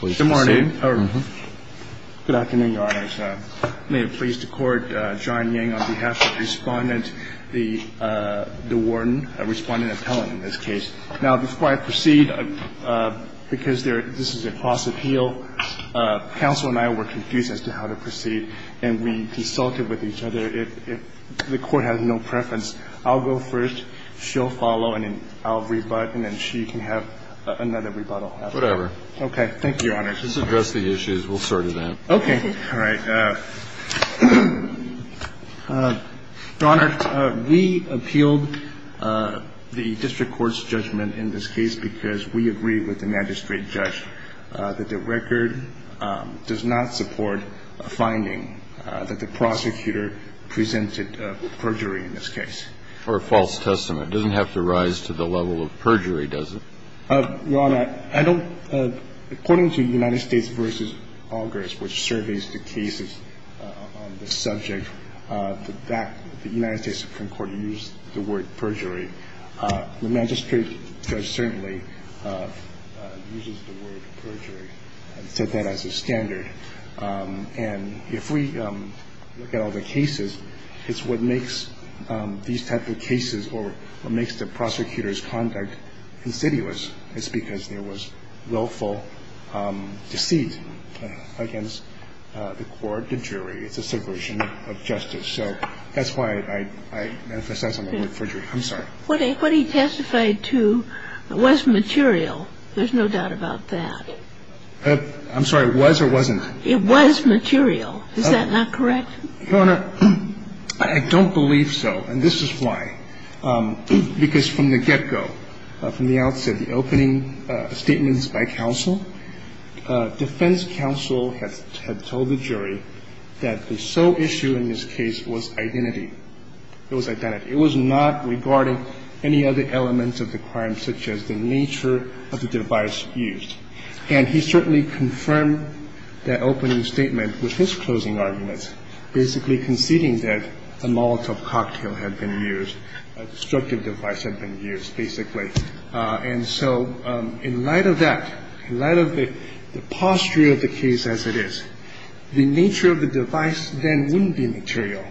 Good morning. Good afternoon, Your Honors. May it please the Court, John Yang on behalf of Respondent DeWarden, a respondent appellant in this case. Now, before I proceed, because this is a cross-appeal, counsel and I were confused as to how to proceed, and we consulted with each other. If the Court has no preference, I'll go first, she'll follow, and then I'll rebut, and then she can have another rebuttal. Whatever. Okay. Thank you, Your Honors. Let's address the issues. We'll sort it out. Okay. All right. Your Honor, we appealed the district court's judgment in this case because we agree with the magistrate judge that the record does not support a finding that the prosecutor presented perjury in this case. Or a false testament. It doesn't have to rise to the level of perjury, does it? Your Honor, I don't – according to United States v. Augers, which surveys the cases on the subject, that the United States Supreme Court used the word perjury. The magistrate judge certainly uses the word perjury and set that as a standard. And if we look at all the cases, it's what makes these type of cases or what makes the prosecutor's conduct insidious. It's because there was willful deceit against the court, the jury. It's a subversion of justice. So that's why I emphasize on the word perjury. I'm sorry. What he testified to was material. There's no doubt about that. I'm sorry. Was or wasn't? It was material. Is that not correct? Your Honor, I don't believe so. And this is why. Because from the get-go, from the outset, the opening statements by counsel, defense counsel had told the jury that the sole issue in this case was identity. It was identity. It was not regarding any other elements of the crime, such as the nature of the device used. And he certainly confirmed that opening statement with his closing arguments, basically conceding that a molotov cocktail had been used, a destructive device had been used, basically. And so in light of that, in light of the posture of the case as it is, the nature of the device then wouldn't be material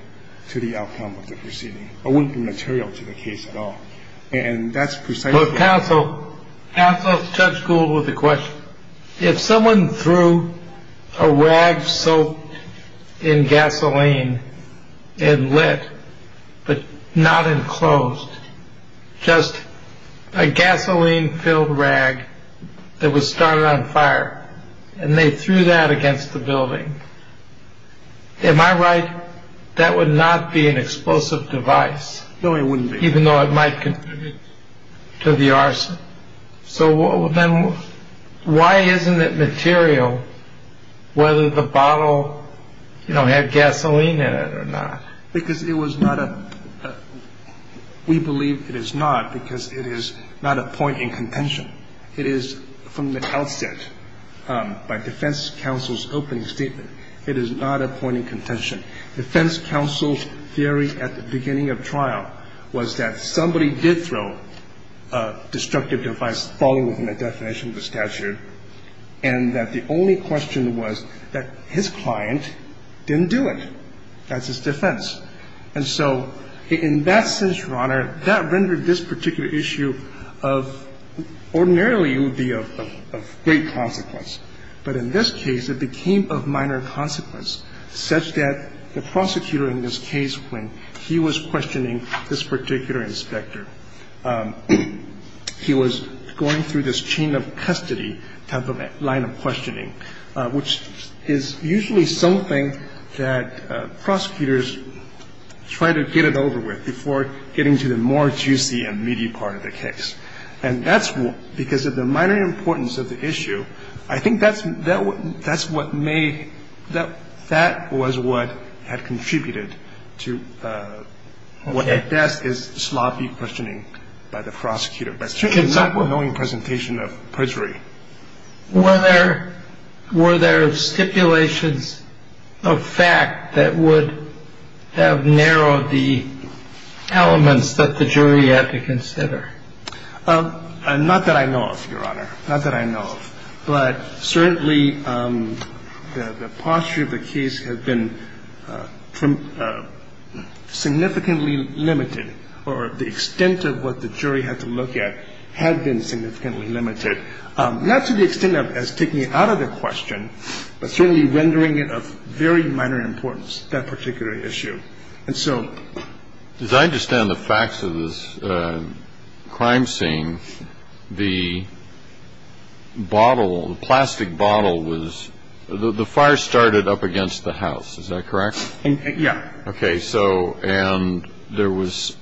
to the outcome of the proceeding, or wouldn't be material to the case at all. And that's precisely. Counsel. Counsel, Judge Gould with a question. If someone threw a rag soaked in gasoline and lit, but not enclosed, just a gasoline filled rag that was started on fire, and they threw that against the building. Am I right? That would not be an explosive device. No, it wouldn't be. Even though it might contribute to the arson. So then why isn't it material whether the bottle had gasoline in it or not? Because it was not a. We believe it is not because it is not a point in contention. It is from the outset by defense counsel's opening statement. It is not a point in contention. The defense counsel's theory at the beginning of trial was that somebody did throw a destructive device, following the definition of the statute, and that the only question was that his client didn't do it. That's his defense. And so in that sense, Your Honor, that rendered this particular issue of ordinarily it would be of great consequence. But in this case, it became of minor consequence, such that the prosecutor in this case, when he was questioning this particular inspector, he was going through this chain of custody type of line of questioning, which is usually something that prosecutors try to get it over with before getting to the more juicy and meaty part of the case. And that's because of the minor importance of the issue. I think that's what made that that was what had contributed to what at best is sloppy questioning by the prosecutor. But it's not a knowing presentation of perjury. Were there stipulations of fact that would have narrowed the elements that the jury had to consider? Not that I know of, Your Honor. Not that I know of. But certainly, the posture of the case has been significantly limited, or the extent of what the jury had to look at had been significantly limited. Not to the extent of as taking it out of the question, but certainly rendering it of very minor importance, that particular issue. And so as I understand the facts of this crime scene, the bottle, the plastic bottle was the fire started up against the house. Is that correct? Yeah. Okay. So and there was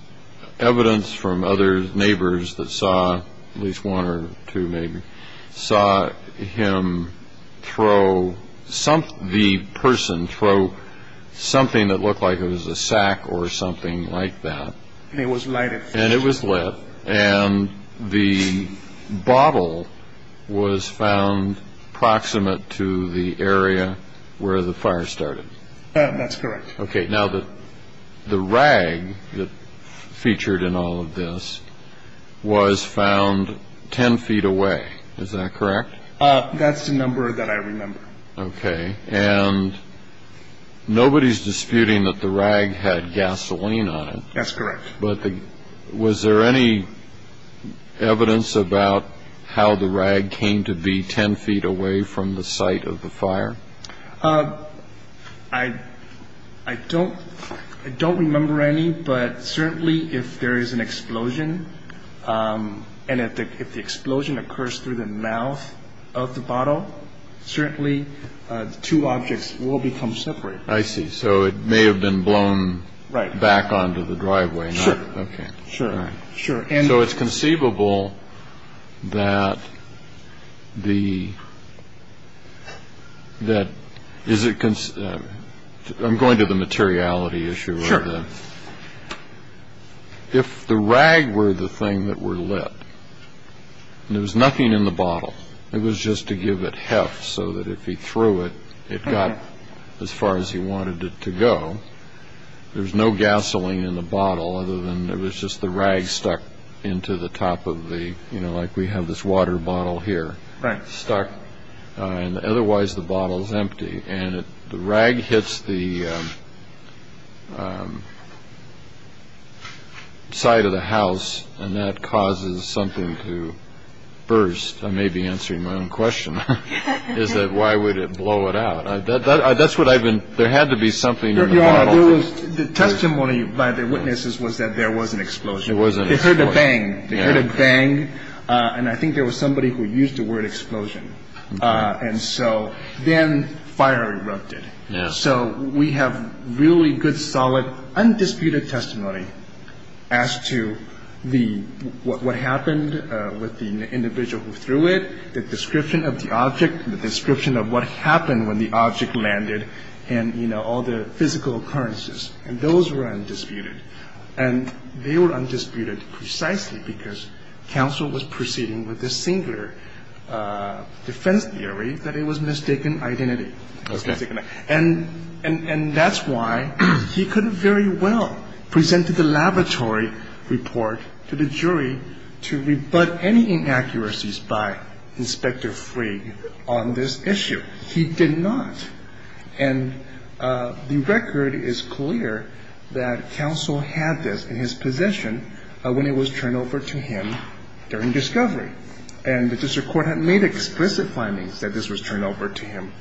evidence from other neighbors that saw at least one or two maybe, saw him throw, the person throw something that looked like it was a sack or something like that. And it was lighted. And it was lit. And the bottle was found proximate to the area where the fire started. That's correct. Okay. Now, the rag that featured in all of this was found 10 feet away. Is that correct? That's the number that I remember. Okay. And nobody's disputing that the rag had gasoline on it. That's correct. But was there any evidence about how the rag came to be 10 feet away from the site of the fire? I don't I don't remember any. But certainly if there is an explosion and if the explosion occurs through the mouth of the bottle, certainly two objects will become separate. I see. So it may have been blown right back onto the driveway. Sure. Sure. Sure. So it's conceivable that the that is it I'm going to the materiality issue. Sure. If the rag were the thing that were lit, there was nothing in the bottle. It was just to give it heft so that if he threw it, it got as far as he wanted it to go. There's no gasoline in the bottle other than it was just the rag stuck into the top of the you know, like we have this water bottle here stuck. And otherwise the bottle is empty and the rag hits the side of the house. And that causes something to burst. I may be answering my own question. Is that why would it blow it out? That's what I've been. There had to be something. It was the testimony by the witnesses was that there was an explosion. It wasn't. They heard a bang. They heard a bang. And I think there was somebody who used the word explosion. And so then fire erupted. So we have really good, solid, undisputed testimony as to the what happened with the individual who threw it. The description of the object, the description of what happened when the object landed and, you know, all the physical occurrences. And those were undisputed. And they were undisputed precisely because counsel was proceeding with the singular defense theory that it was mistaken identity. And that's why he could very well present to the laboratory report to the jury to rebut any inaccuracies by Inspector Freed on this issue. He did not. And the record is clear that counsel had this in his possession when it was turned over to him during discovery. And the district court had made explicit findings that this was turned over to him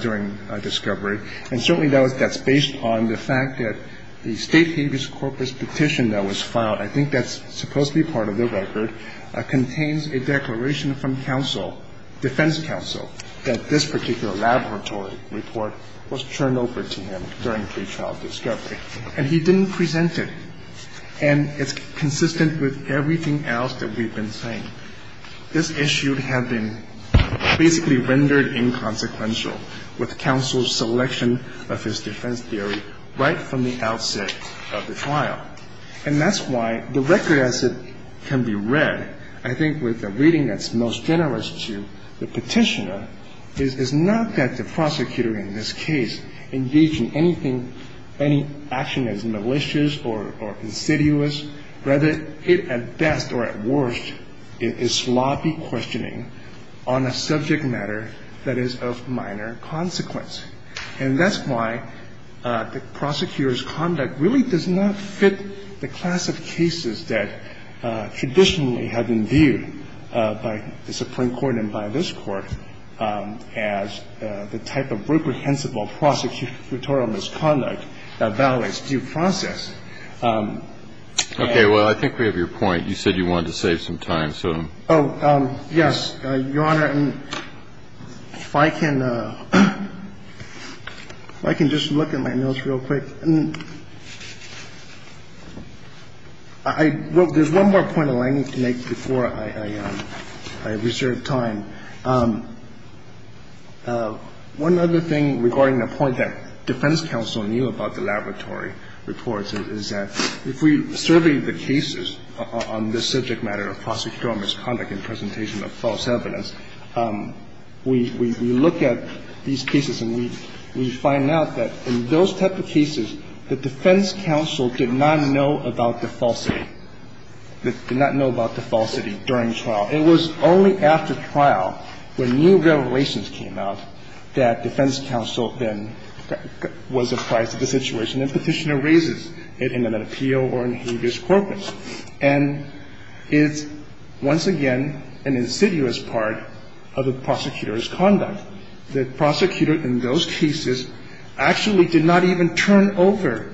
during discovery. And certainly that's based on the fact that the state habeas corpus petition that was filed, I think that's supposed to be part of the record, contains a declaration from counsel, defense counsel, that this particular laboratory report was turned over to him during pretrial discovery. And he didn't present it. And it's consistent with everything else that we've been saying. This issue had been basically rendered inconsequential with counsel's selection of his defense theory right from the outset of the trial. And that's why the record as it can be read, I think with a reading that's most generous to the Petitioner, is not that the prosecutor in this case engaged in anything, any action as malicious or insidious. Rather, it at best or at worst is sloppy questioning on a subject matter that is of minor consequence. And that's why the prosecutor's conduct really does not fit the class of cases that traditionally have been viewed by the Supreme Court and by this Court as the type of reprehensible prosecutorial misconduct that violates due process. Kennedy. Well, I think we have your point. You said you wanted to save some time, so. Oh, yes, Your Honor. And if I can just look at my notes real quick. There's one more point that I need to make before I reserve time. One other thing regarding the point that defense counsel knew about the laboratory reports is that if we survey the cases on this subject matter of prosecutorial misconduct and presentation of false evidence, we look at these cases and we find out that in those type of cases, the defense counsel did not know about the falsity, did not know about the falsity during trial. It was only after trial when new revelations came out that defense counsel then was surprised at the situation and petitioner raises it in an appeal or in habeas corpus. And it's once again an insidious part of the prosecutor's conduct. The prosecutor in those cases actually did not even turn over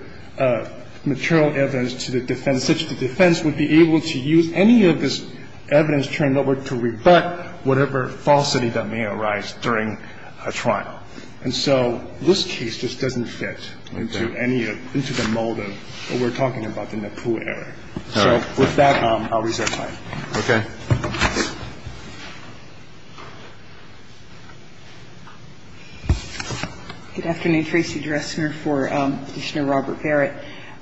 material evidence to the defense such that the defense would be able to use any of this evidence turned over to rebut whatever falsity that may arise during a trial. And so this case just doesn't fit into any of the mold of what we're talking about in the Pooh area. So with that, I'll reserve time. Roberts. Good afternoon. Tracy Dressner for Petitioner Robert Barrett.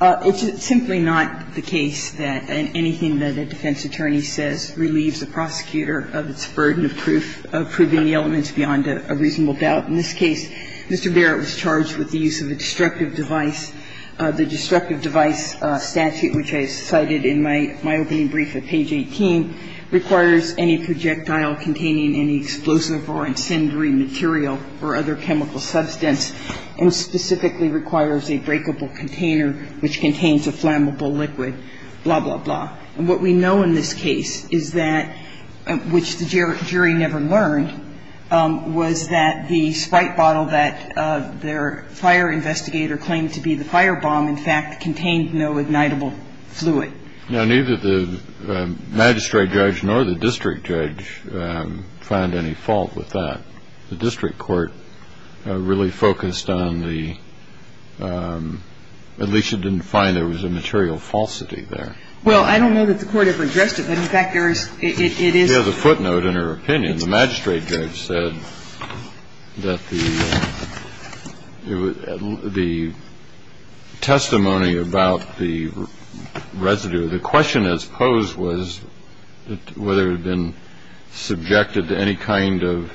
It's simply not the case that anything that a defense attorney says relieves the prosecutor of its burden of proof, of proving the elements beyond a reasonable doubt. In this case, Mr. Barrett was charged with the use of a destructive device. The destructive device statute, which I cited in my opening brief at page 18, requires any projectile containing any explosive or incendiary material or other chemical substance, and specifically requires a breakable container which contains a flammable liquid, blah, blah, blah. And what we know in this case is that, which the jury never learned, was that the Sprite bottle that their fire investigator claimed to be the fire bomb, in fact, contained no ignitable fluid. Now, neither the magistrate judge nor the district judge found any fault with that. The district court really focused on the at least it didn't find there was a material falsity there. Well, I don't know that the Court ever addressed it, but in fact, there is – it is – It is a footnote in her opinion. The magistrate judge said that the testimony about the residue, the question that was posed was whether it had been subjected to any kind of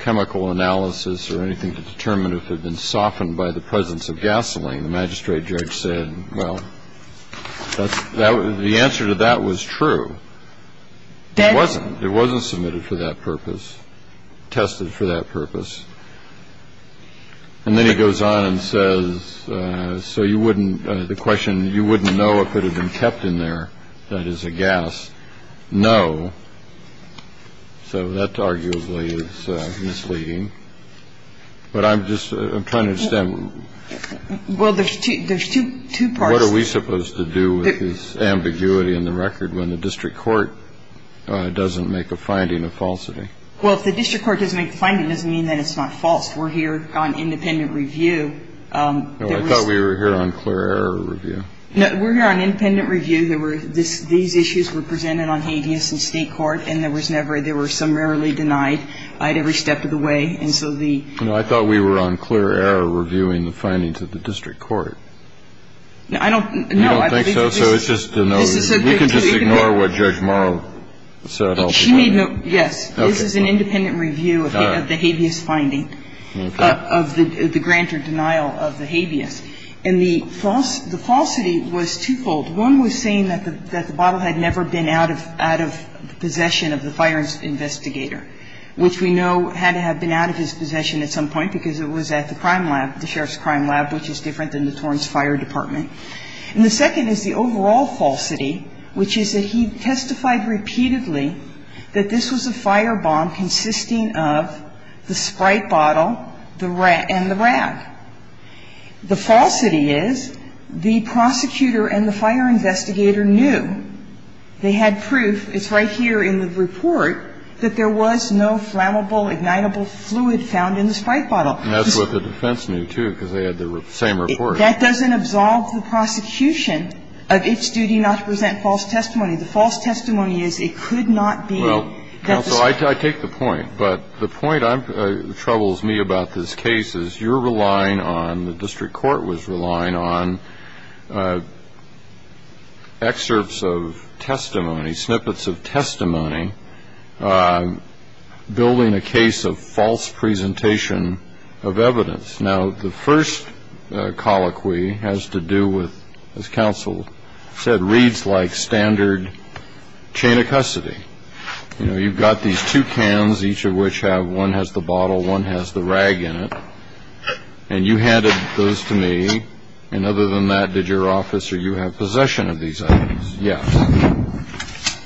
chemical analysis or anything to determine if it had been softened by the presence of gasoline. The magistrate judge said, well, that's – the answer to that was true. It wasn't. It wasn't submitted for that purpose, tested for that purpose. And then he goes on and says, so you wouldn't – the question, you wouldn't know if it had been kept in there, that is, a gas. No. So that arguably is misleading. But I'm just – I'm trying to understand. Well, there's two parts. What are we supposed to do with this ambiguity in the record when the district court doesn't make a finding of falsity? Well, if the district court doesn't make a finding, it doesn't mean that it's not false. We're here on independent review. No, I thought we were here on clear error review. No, we're here on independent review. These issues were presented on habeas in state court, and there was never – they were summarily denied at every step of the way. And so the – No, I thought we were on clear error reviewing the findings of the district court. No, I don't – no. You don't think so? So it's just a no. We can just ignore what Judge Morrow said. She made no – yes. Okay. This is an independent review of the habeas finding, of the grant or denial of the habeas. And the falsity was twofold. One was saying that the bottle had never been out of possession of the fire investigator, which we know had to have been out of his possession at some point because it was at the crime lab, the sheriff's crime lab, which is different than the Torrance Fire Department. And the second is the overall falsity, which is that he testified repeatedly that this was a fire bomb consisting of the Sprite bottle and the rag. The falsity is the prosecutor and the fire investigator knew. And they had proof. It's right here in the report that there was no flammable, ignitable fluid found in the Sprite bottle. And that's what the defense knew, too, because they had the same report. That doesn't absolve the prosecution of its duty not to present false testimony. The false testimony is it could not be. Well, counsel, I take the point. But the point that troubles me about this case is you're relying on, the district court was relying on, excerpts of testimony, snippets of testimony, building a case of false presentation of evidence. Now, the first colloquy has to do with, as counsel said, reads like standard chain of custody. You know, you've got these two cans, each of which have one has the bottle, one has the rag in it. And you handed those to me. And other than that, did your officer, you have possession of these items? Yes.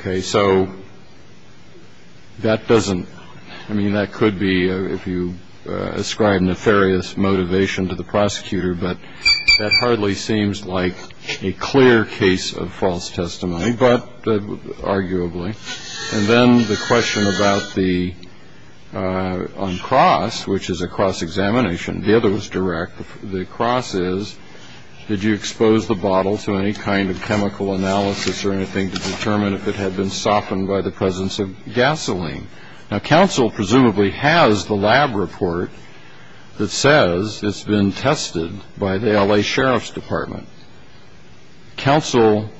Okay. So that doesn't, I mean, that could be, if you ascribe nefarious motivation to the prosecutor, but that hardly seems like a clear case of false testimony, but arguably. And then the question about the, on cross, which is a cross examination. The other was direct. The cross is, did you expose the bottle to any kind of chemical analysis or anything to determine if it had been softened by the presence of gasoline? Now, counsel presumably has the lab report that says it's been tested by the L.A. Sheriff's Department. Counsel,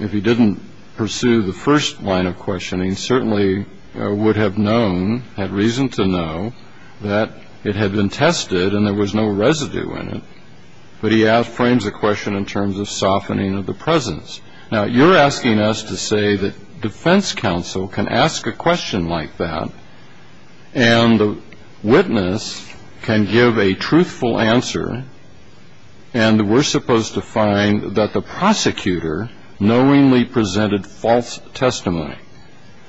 if he didn't pursue the first line of questioning, certainly would have known, had reason to know, that it had been tested and there was no residue in it. But he frames the question in terms of softening of the presence. Now, you're asking us to say that defense counsel can ask a question like that, and the witness can give a truthful answer, and we're supposed to find that the prosecutor knowingly presented false testimony.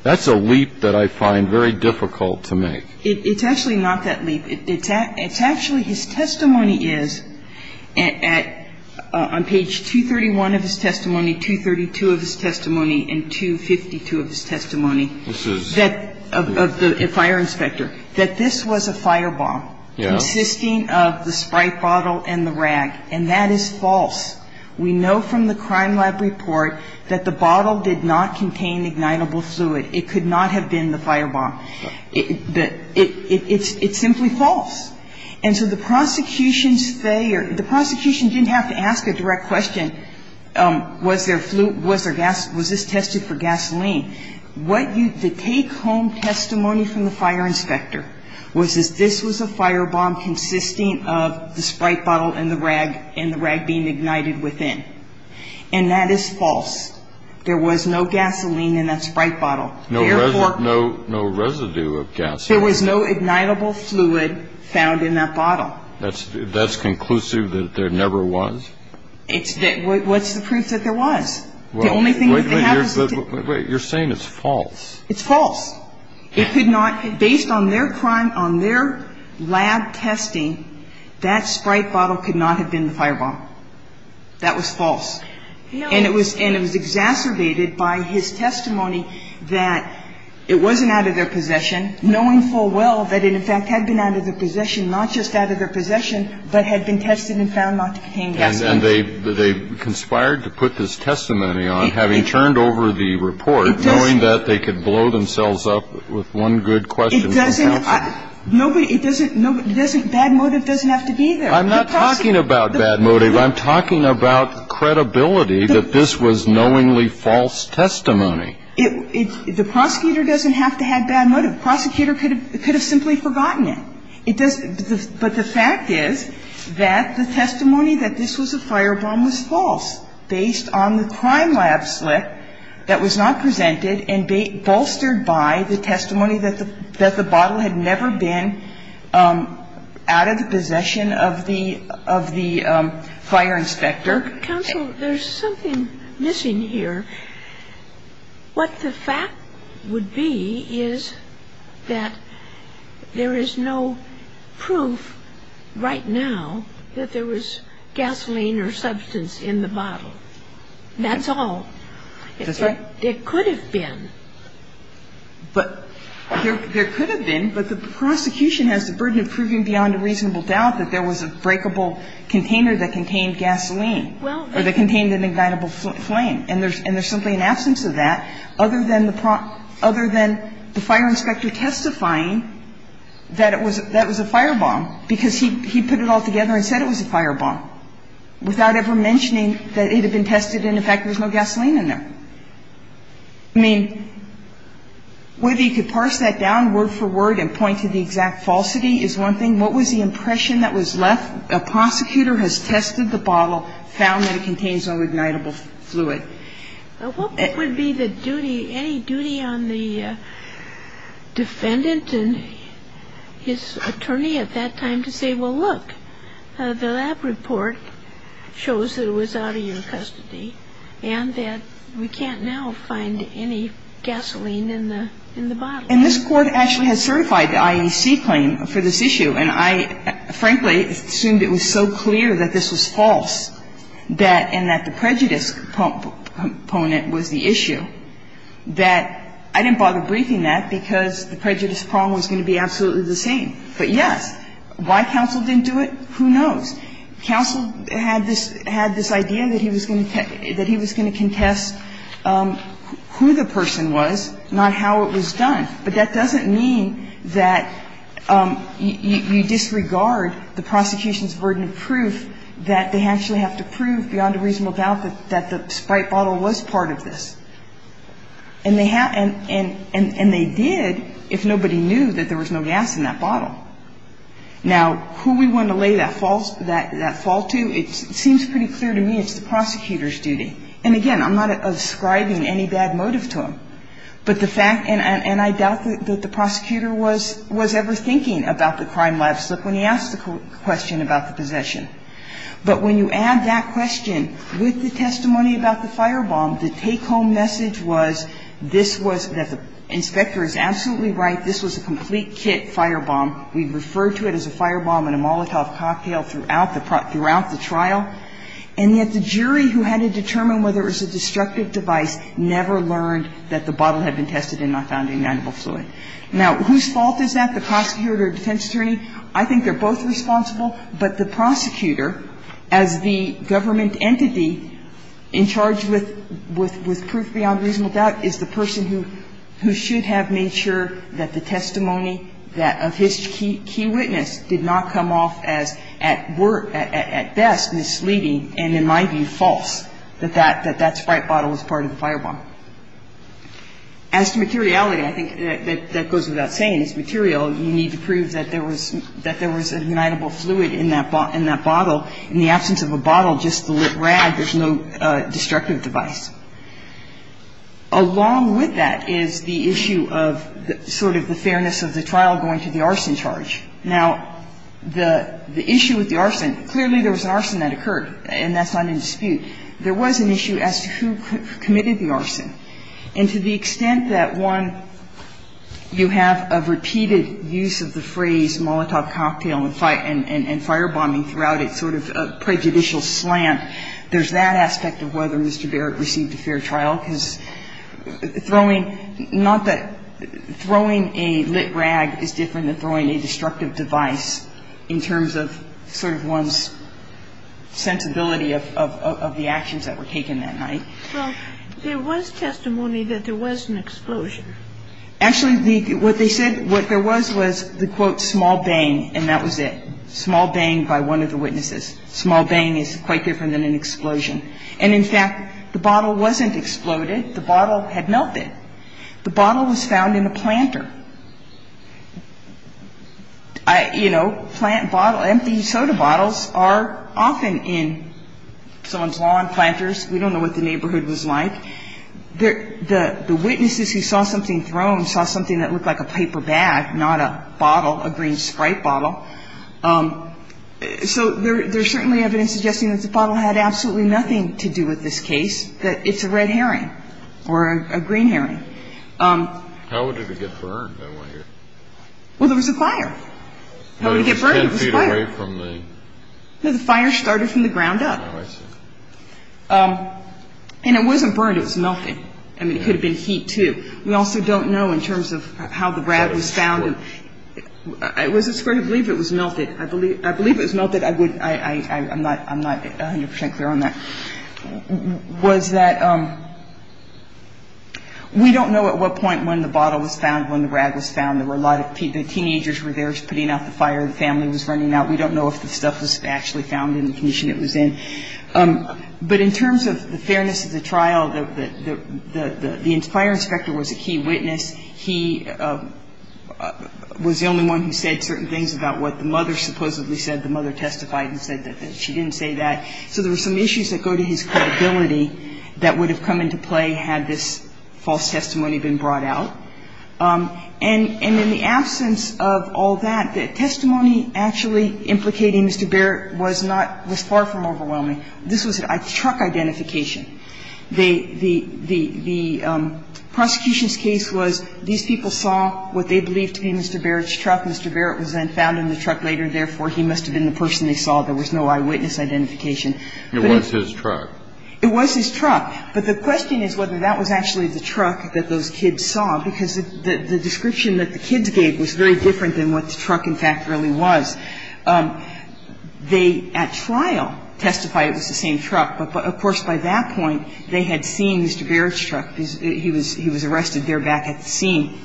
That's a leap that I find very difficult to make. It's actually not that leap. It's actually his testimony is at, on page 231 of his testimony, 232 of his testimony, and 252 of his testimony. This is. Of the fire inspector, that this was a firebomb. Yeah. Consisting of the Sprite bottle and the rag, and that is false. We know from the crime lab report that the bottle did not contain ignitable fluid. It could not have been the firebomb. It's simply false. And so the prosecution's failure, the prosecution didn't have to ask a direct question. Was there gas, was this tested for gasoline? What you, the take-home testimony from the fire inspector was that this was a firebomb consisting of the Sprite bottle and the rag, and the rag being ignited within. And that is false. There was no gasoline in that Sprite bottle. Therefore. No residue of gasoline. There was no ignitable fluid found in that bottle. That's conclusive that there never was? It's, what's the proof that there was? Well, wait a minute. You're saying it's false. It's false. It could not, based on their crime, on their lab testing, that Sprite bottle could not have been the firebomb. That was false. And it was, and it was exacerbated by his testimony that it wasn't out of their possession, knowing full well that it in fact had been out of their possession, not just out of their possession, but had been tested and found not to contain gasoline. And they've conspired to put this testimony on, having turned over the report, knowing that they could blow themselves up with one good question from counsel. Nobody, it doesn't, bad motive doesn't have to be there. I'm not talking about bad motive. I'm talking about credibility that this was knowingly false testimony. The prosecutor doesn't have to have bad motive. The prosecutor could have simply forgotten it. But the fact is that the testimony that this was a firebomb was false, based on the crime lab slip that was not presented and bolstered by the testimony that the bottle had never been out of the possession of the fire inspector. Counsel, there's something missing here. What the fact would be is that there is no proof right now that there was gasoline or substance in the bottle. That's all. That's right. It could have been. But there could have been, but the prosecution has the burden of proving beyond a reasonable doubt that there was a breakable container that contained gasoline or that contained an ignitable flame. And there's simply an absence of that other than the fire inspector testifying that it was a firebomb because he put it all together and said it was a firebomb without ever mentioning that it had been tested and, in fact, there was no gasoline in there. I mean, whether you could parse that down word for word and point to the exact falsity is one thing. What was the impression that was left? A prosecutor has tested the bottle, found that it contains no ignitable fluid. What would be the duty, any duty on the defendant and his attorney at that time to say, well, look, the lab report shows that it was out of your custody and that we can't now find any gasoline in the bottle? And this Court actually has certified the IEC claim for this issue. And I, frankly, assumed it was so clear that this was false that and that the prejudice component was the issue that I didn't bother briefing that because the prejudice problem was going to be absolutely the same. But, yes, why counsel didn't do it, who knows. Counsel had this idea that he was going to contest who the person was, not how it was done. But that doesn't mean that you disregard the prosecution's burden of proof that they actually have to prove beyond a reasonable doubt that the Sprite bottle was part of this. And they did if nobody knew that there was no gas in that bottle. Now, who we want to lay that fault to, it seems pretty clear to me it's the prosecutor's duty. And, again, I'm not ascribing any bad motive to him. But the fact, and I doubt that the prosecutor was ever thinking about the crime lapse when he asked the question about the possession. But when you add that question with the testimony about the firebomb, the take-home message was this was, that the inspector is absolutely right, this was a complete kit firebomb, we referred to it as a firebomb and a Molotov cocktail throughout the trial, and yet the jury who had to determine whether it was a destructive device never learned that the bottle had been tested and not found ignitable fluid. Now, whose fault is that, the prosecutor or defense attorney? I think they're both responsible, but the prosecutor, as the government entity in charge with proof beyond reasonable doubt, is the person who should have made sure that the testimony of his key witness did not come off as at best misleading and, in my view, false, that that sprite bottle was part of the firebomb. As to materiality, I think that goes without saying, it's material. You need to prove that there was ignitable fluid in that bottle. In the absence of a bottle, just the lit rag, there's no destructive device. Along with that is the issue of sort of the fairness of the trial going to the arson charge. Now, the issue with the arson, clearly there was an arson that occurred, and that's not in dispute. There was an issue as to who committed the arson. And to the extent that, one, you have a repeated use of the phrase Molotov cocktail and firebombing throughout it, sort of a prejudicial slant, there's that aspect of whether Mr. Barrett received a fair trial, because throwing a lit rag is different than throwing a destructive device in terms of sort of one's sensibility of the actions that were taken that night. Well, there was testimony that there was an explosion. Actually, what they said what there was was the, quote, small bang, and that was it, small bang by one of the witnesses. Small bang is quite different than an explosion. And, in fact, the bottle wasn't exploded. The bottle had melted. The bottle was found in a planter. You know, plant bottle, empty soda bottles are often in someone's lawn, planters. We don't know what the neighborhood was like. The witnesses who saw something thrown saw something that looked like a paper bag, not a bottle, a green Sprite bottle. So there's certainly evidence suggesting that the bottle had absolutely nothing to do with this case, that it's a red herring or a green herring. How did it get burned? I want to hear. Well, there was a fire. How did it get burned? It was fire. It was 10 feet away from the... No, the fire started from the ground up. Oh, I see. And it wasn't burned. It was melting. I mean, it could have been heat, too. We also don't know in terms of how the rag was found. I was afraid to believe it was melted. I believe it was melted. I'm not 100% clear on that. Was that we don't know at what point when the bottle was found, when the rag was found. There were a lot of people. The teenagers were there putting out the fire. The family was running out. We don't know if the stuff was actually found in the condition it was in. But in terms of the fairness of the trial, the fire inspector was a key witness. He was the only one who said certain things about what the mother supposedly said. The mother testified and said that she didn't say that. So there were some issues that go to his credibility that would have come into play had this false testimony been brought out. And in the absence of all that, the testimony actually implicating Mr. Barrett was far from overwhelming. This was a truck identification. The prosecution's case was these people saw what they believed to be Mr. Barrett's truck. Mr. Barrett was then found in the truck later. Therefore, he must have been the person they saw. There was no eyewitness identification. It was his truck. It was his truck. But the question is whether that was actually the truck that those kids saw, because the description that the kids gave was very different than what the truck, in fact, really was. They at trial testify it was the same truck. But, of course, by that point, they had seen Mr. Barrett's truck. He was arrested there back at the scene.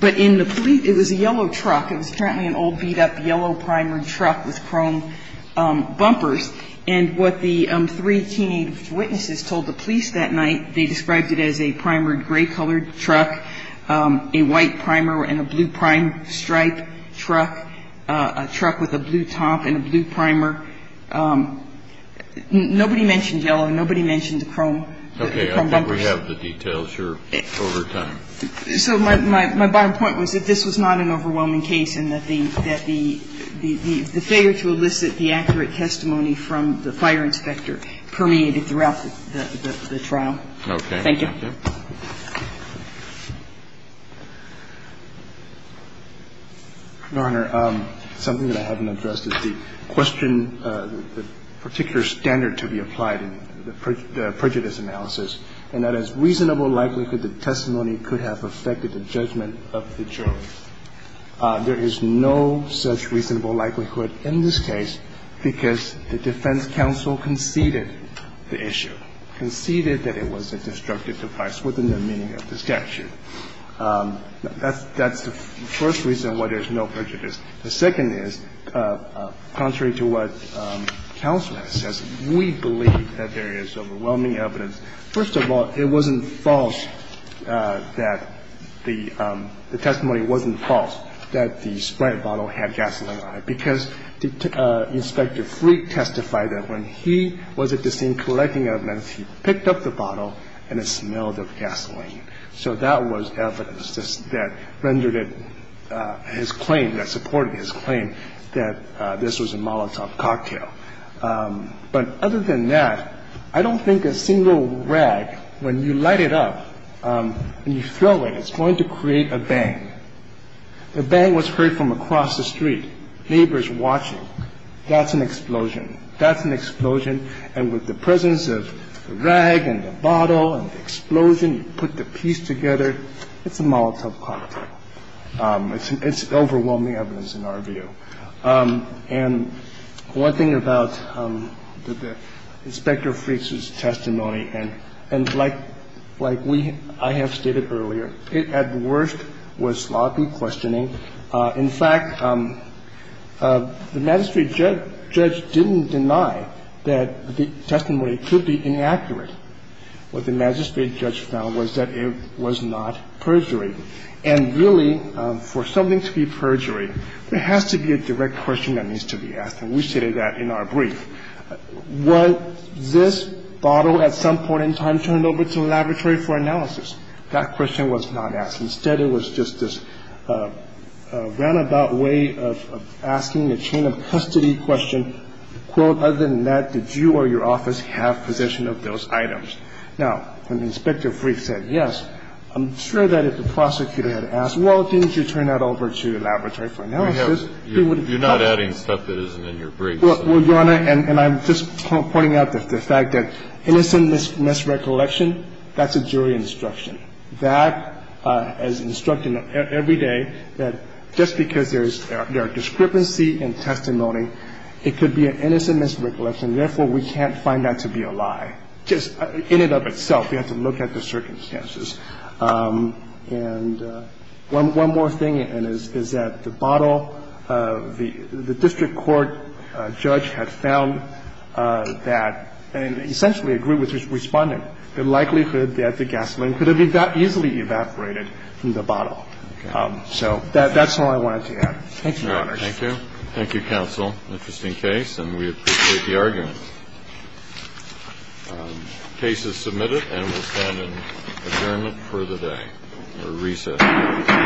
But in the police, it was a yellow truck. It was apparently an old beat-up yellow primered truck with chrome bumpers. And what the three teenage witnesses told the police that night, they described it as a primered gray-colored truck, a white primer and a blue prime stripe truck, a truck with a blue top and a blue primer. Nobody mentioned yellow. Nobody mentioned the chrome bumpers. Okay. I think we have the details here over time. So my bottom point was that this was not an overwhelming case and that the failure to elicit the accurate testimony from the fire inspector permeated throughout the trial. Okay. Thank you. Your Honor, something that I haven't addressed is the question, the particular standard to be applied in the prejudice analysis, and that is reasonable likelihood that testimony could have affected the judgment of the jury. There is no such reasonable likelihood in this case because the defense counsel conceded the issue, conceded that it was a destructive device. It was a destructive device within the meaning of the statute. That's the first reason why there's no prejudice. The second is, contrary to what counsel has said, we believe that there is overwhelming evidence. First of all, it wasn't false that the testimony wasn't false that the spray bottle had gasoline on it, because Inspector Freed testified that when he was at the scene collecting evidence, he picked up the bottle and it smelled of gasoline. So that was evidence that rendered it his claim, that supported his claim that this was a Molotov cocktail. But other than that, I don't think a single rag, when you light it up and you throw it, it's going to create a bang. The bang was heard from across the street, neighbors watching. That's an explosion. That's an explosion. And with the presence of the rag and the bottle and the explosion, you put the piece together, it's a Molotov cocktail. It's overwhelming evidence in our view. And one thing about Inspector Freed's testimony, and like we – I have stated earlier, it at worst was sloppy questioning. In fact, the magistrate judge didn't deny that the testimony could be inaccurate. What the magistrate judge found was that it was not perjury. And really, for something to be perjury, there has to be a direct question that needs to be asked. And we stated that in our brief. Was this bottle at some point in time turned over to the laboratory for analysis? That question was not asked. Instead, it was just this roundabout way of asking the chain of custody question, quote, other than that, did you or your office have possession of those items? Now, when Inspector Freed said yes, I'm sure that if the prosecutor had asked, well, didn't you turn that over to the laboratory for analysis, he would have – You're not adding stuff that isn't in your brief. Well, Your Honor, and I'm just pointing out the fact that innocent misrecollection, that's a jury instruction. That, as instructed every day, that just because there is – there are discrepancy in testimony, it could be an innocent misrecollection. Therefore, we can't find that to be a lie, just in and of itself. We have to look at the circumstances. And one more thing, and it's that the bottle, the district court judge had found that in the case of the gasoline. He found that the gasoline could have easily evaporated from the bottle. So that's all I wanted to add. Thank you, Your Honors. Thank you. Thank you, counsel. Interesting case, and we appreciate the argument. The case is submitted and will stand in adjournment for the day, or recess. Thank you.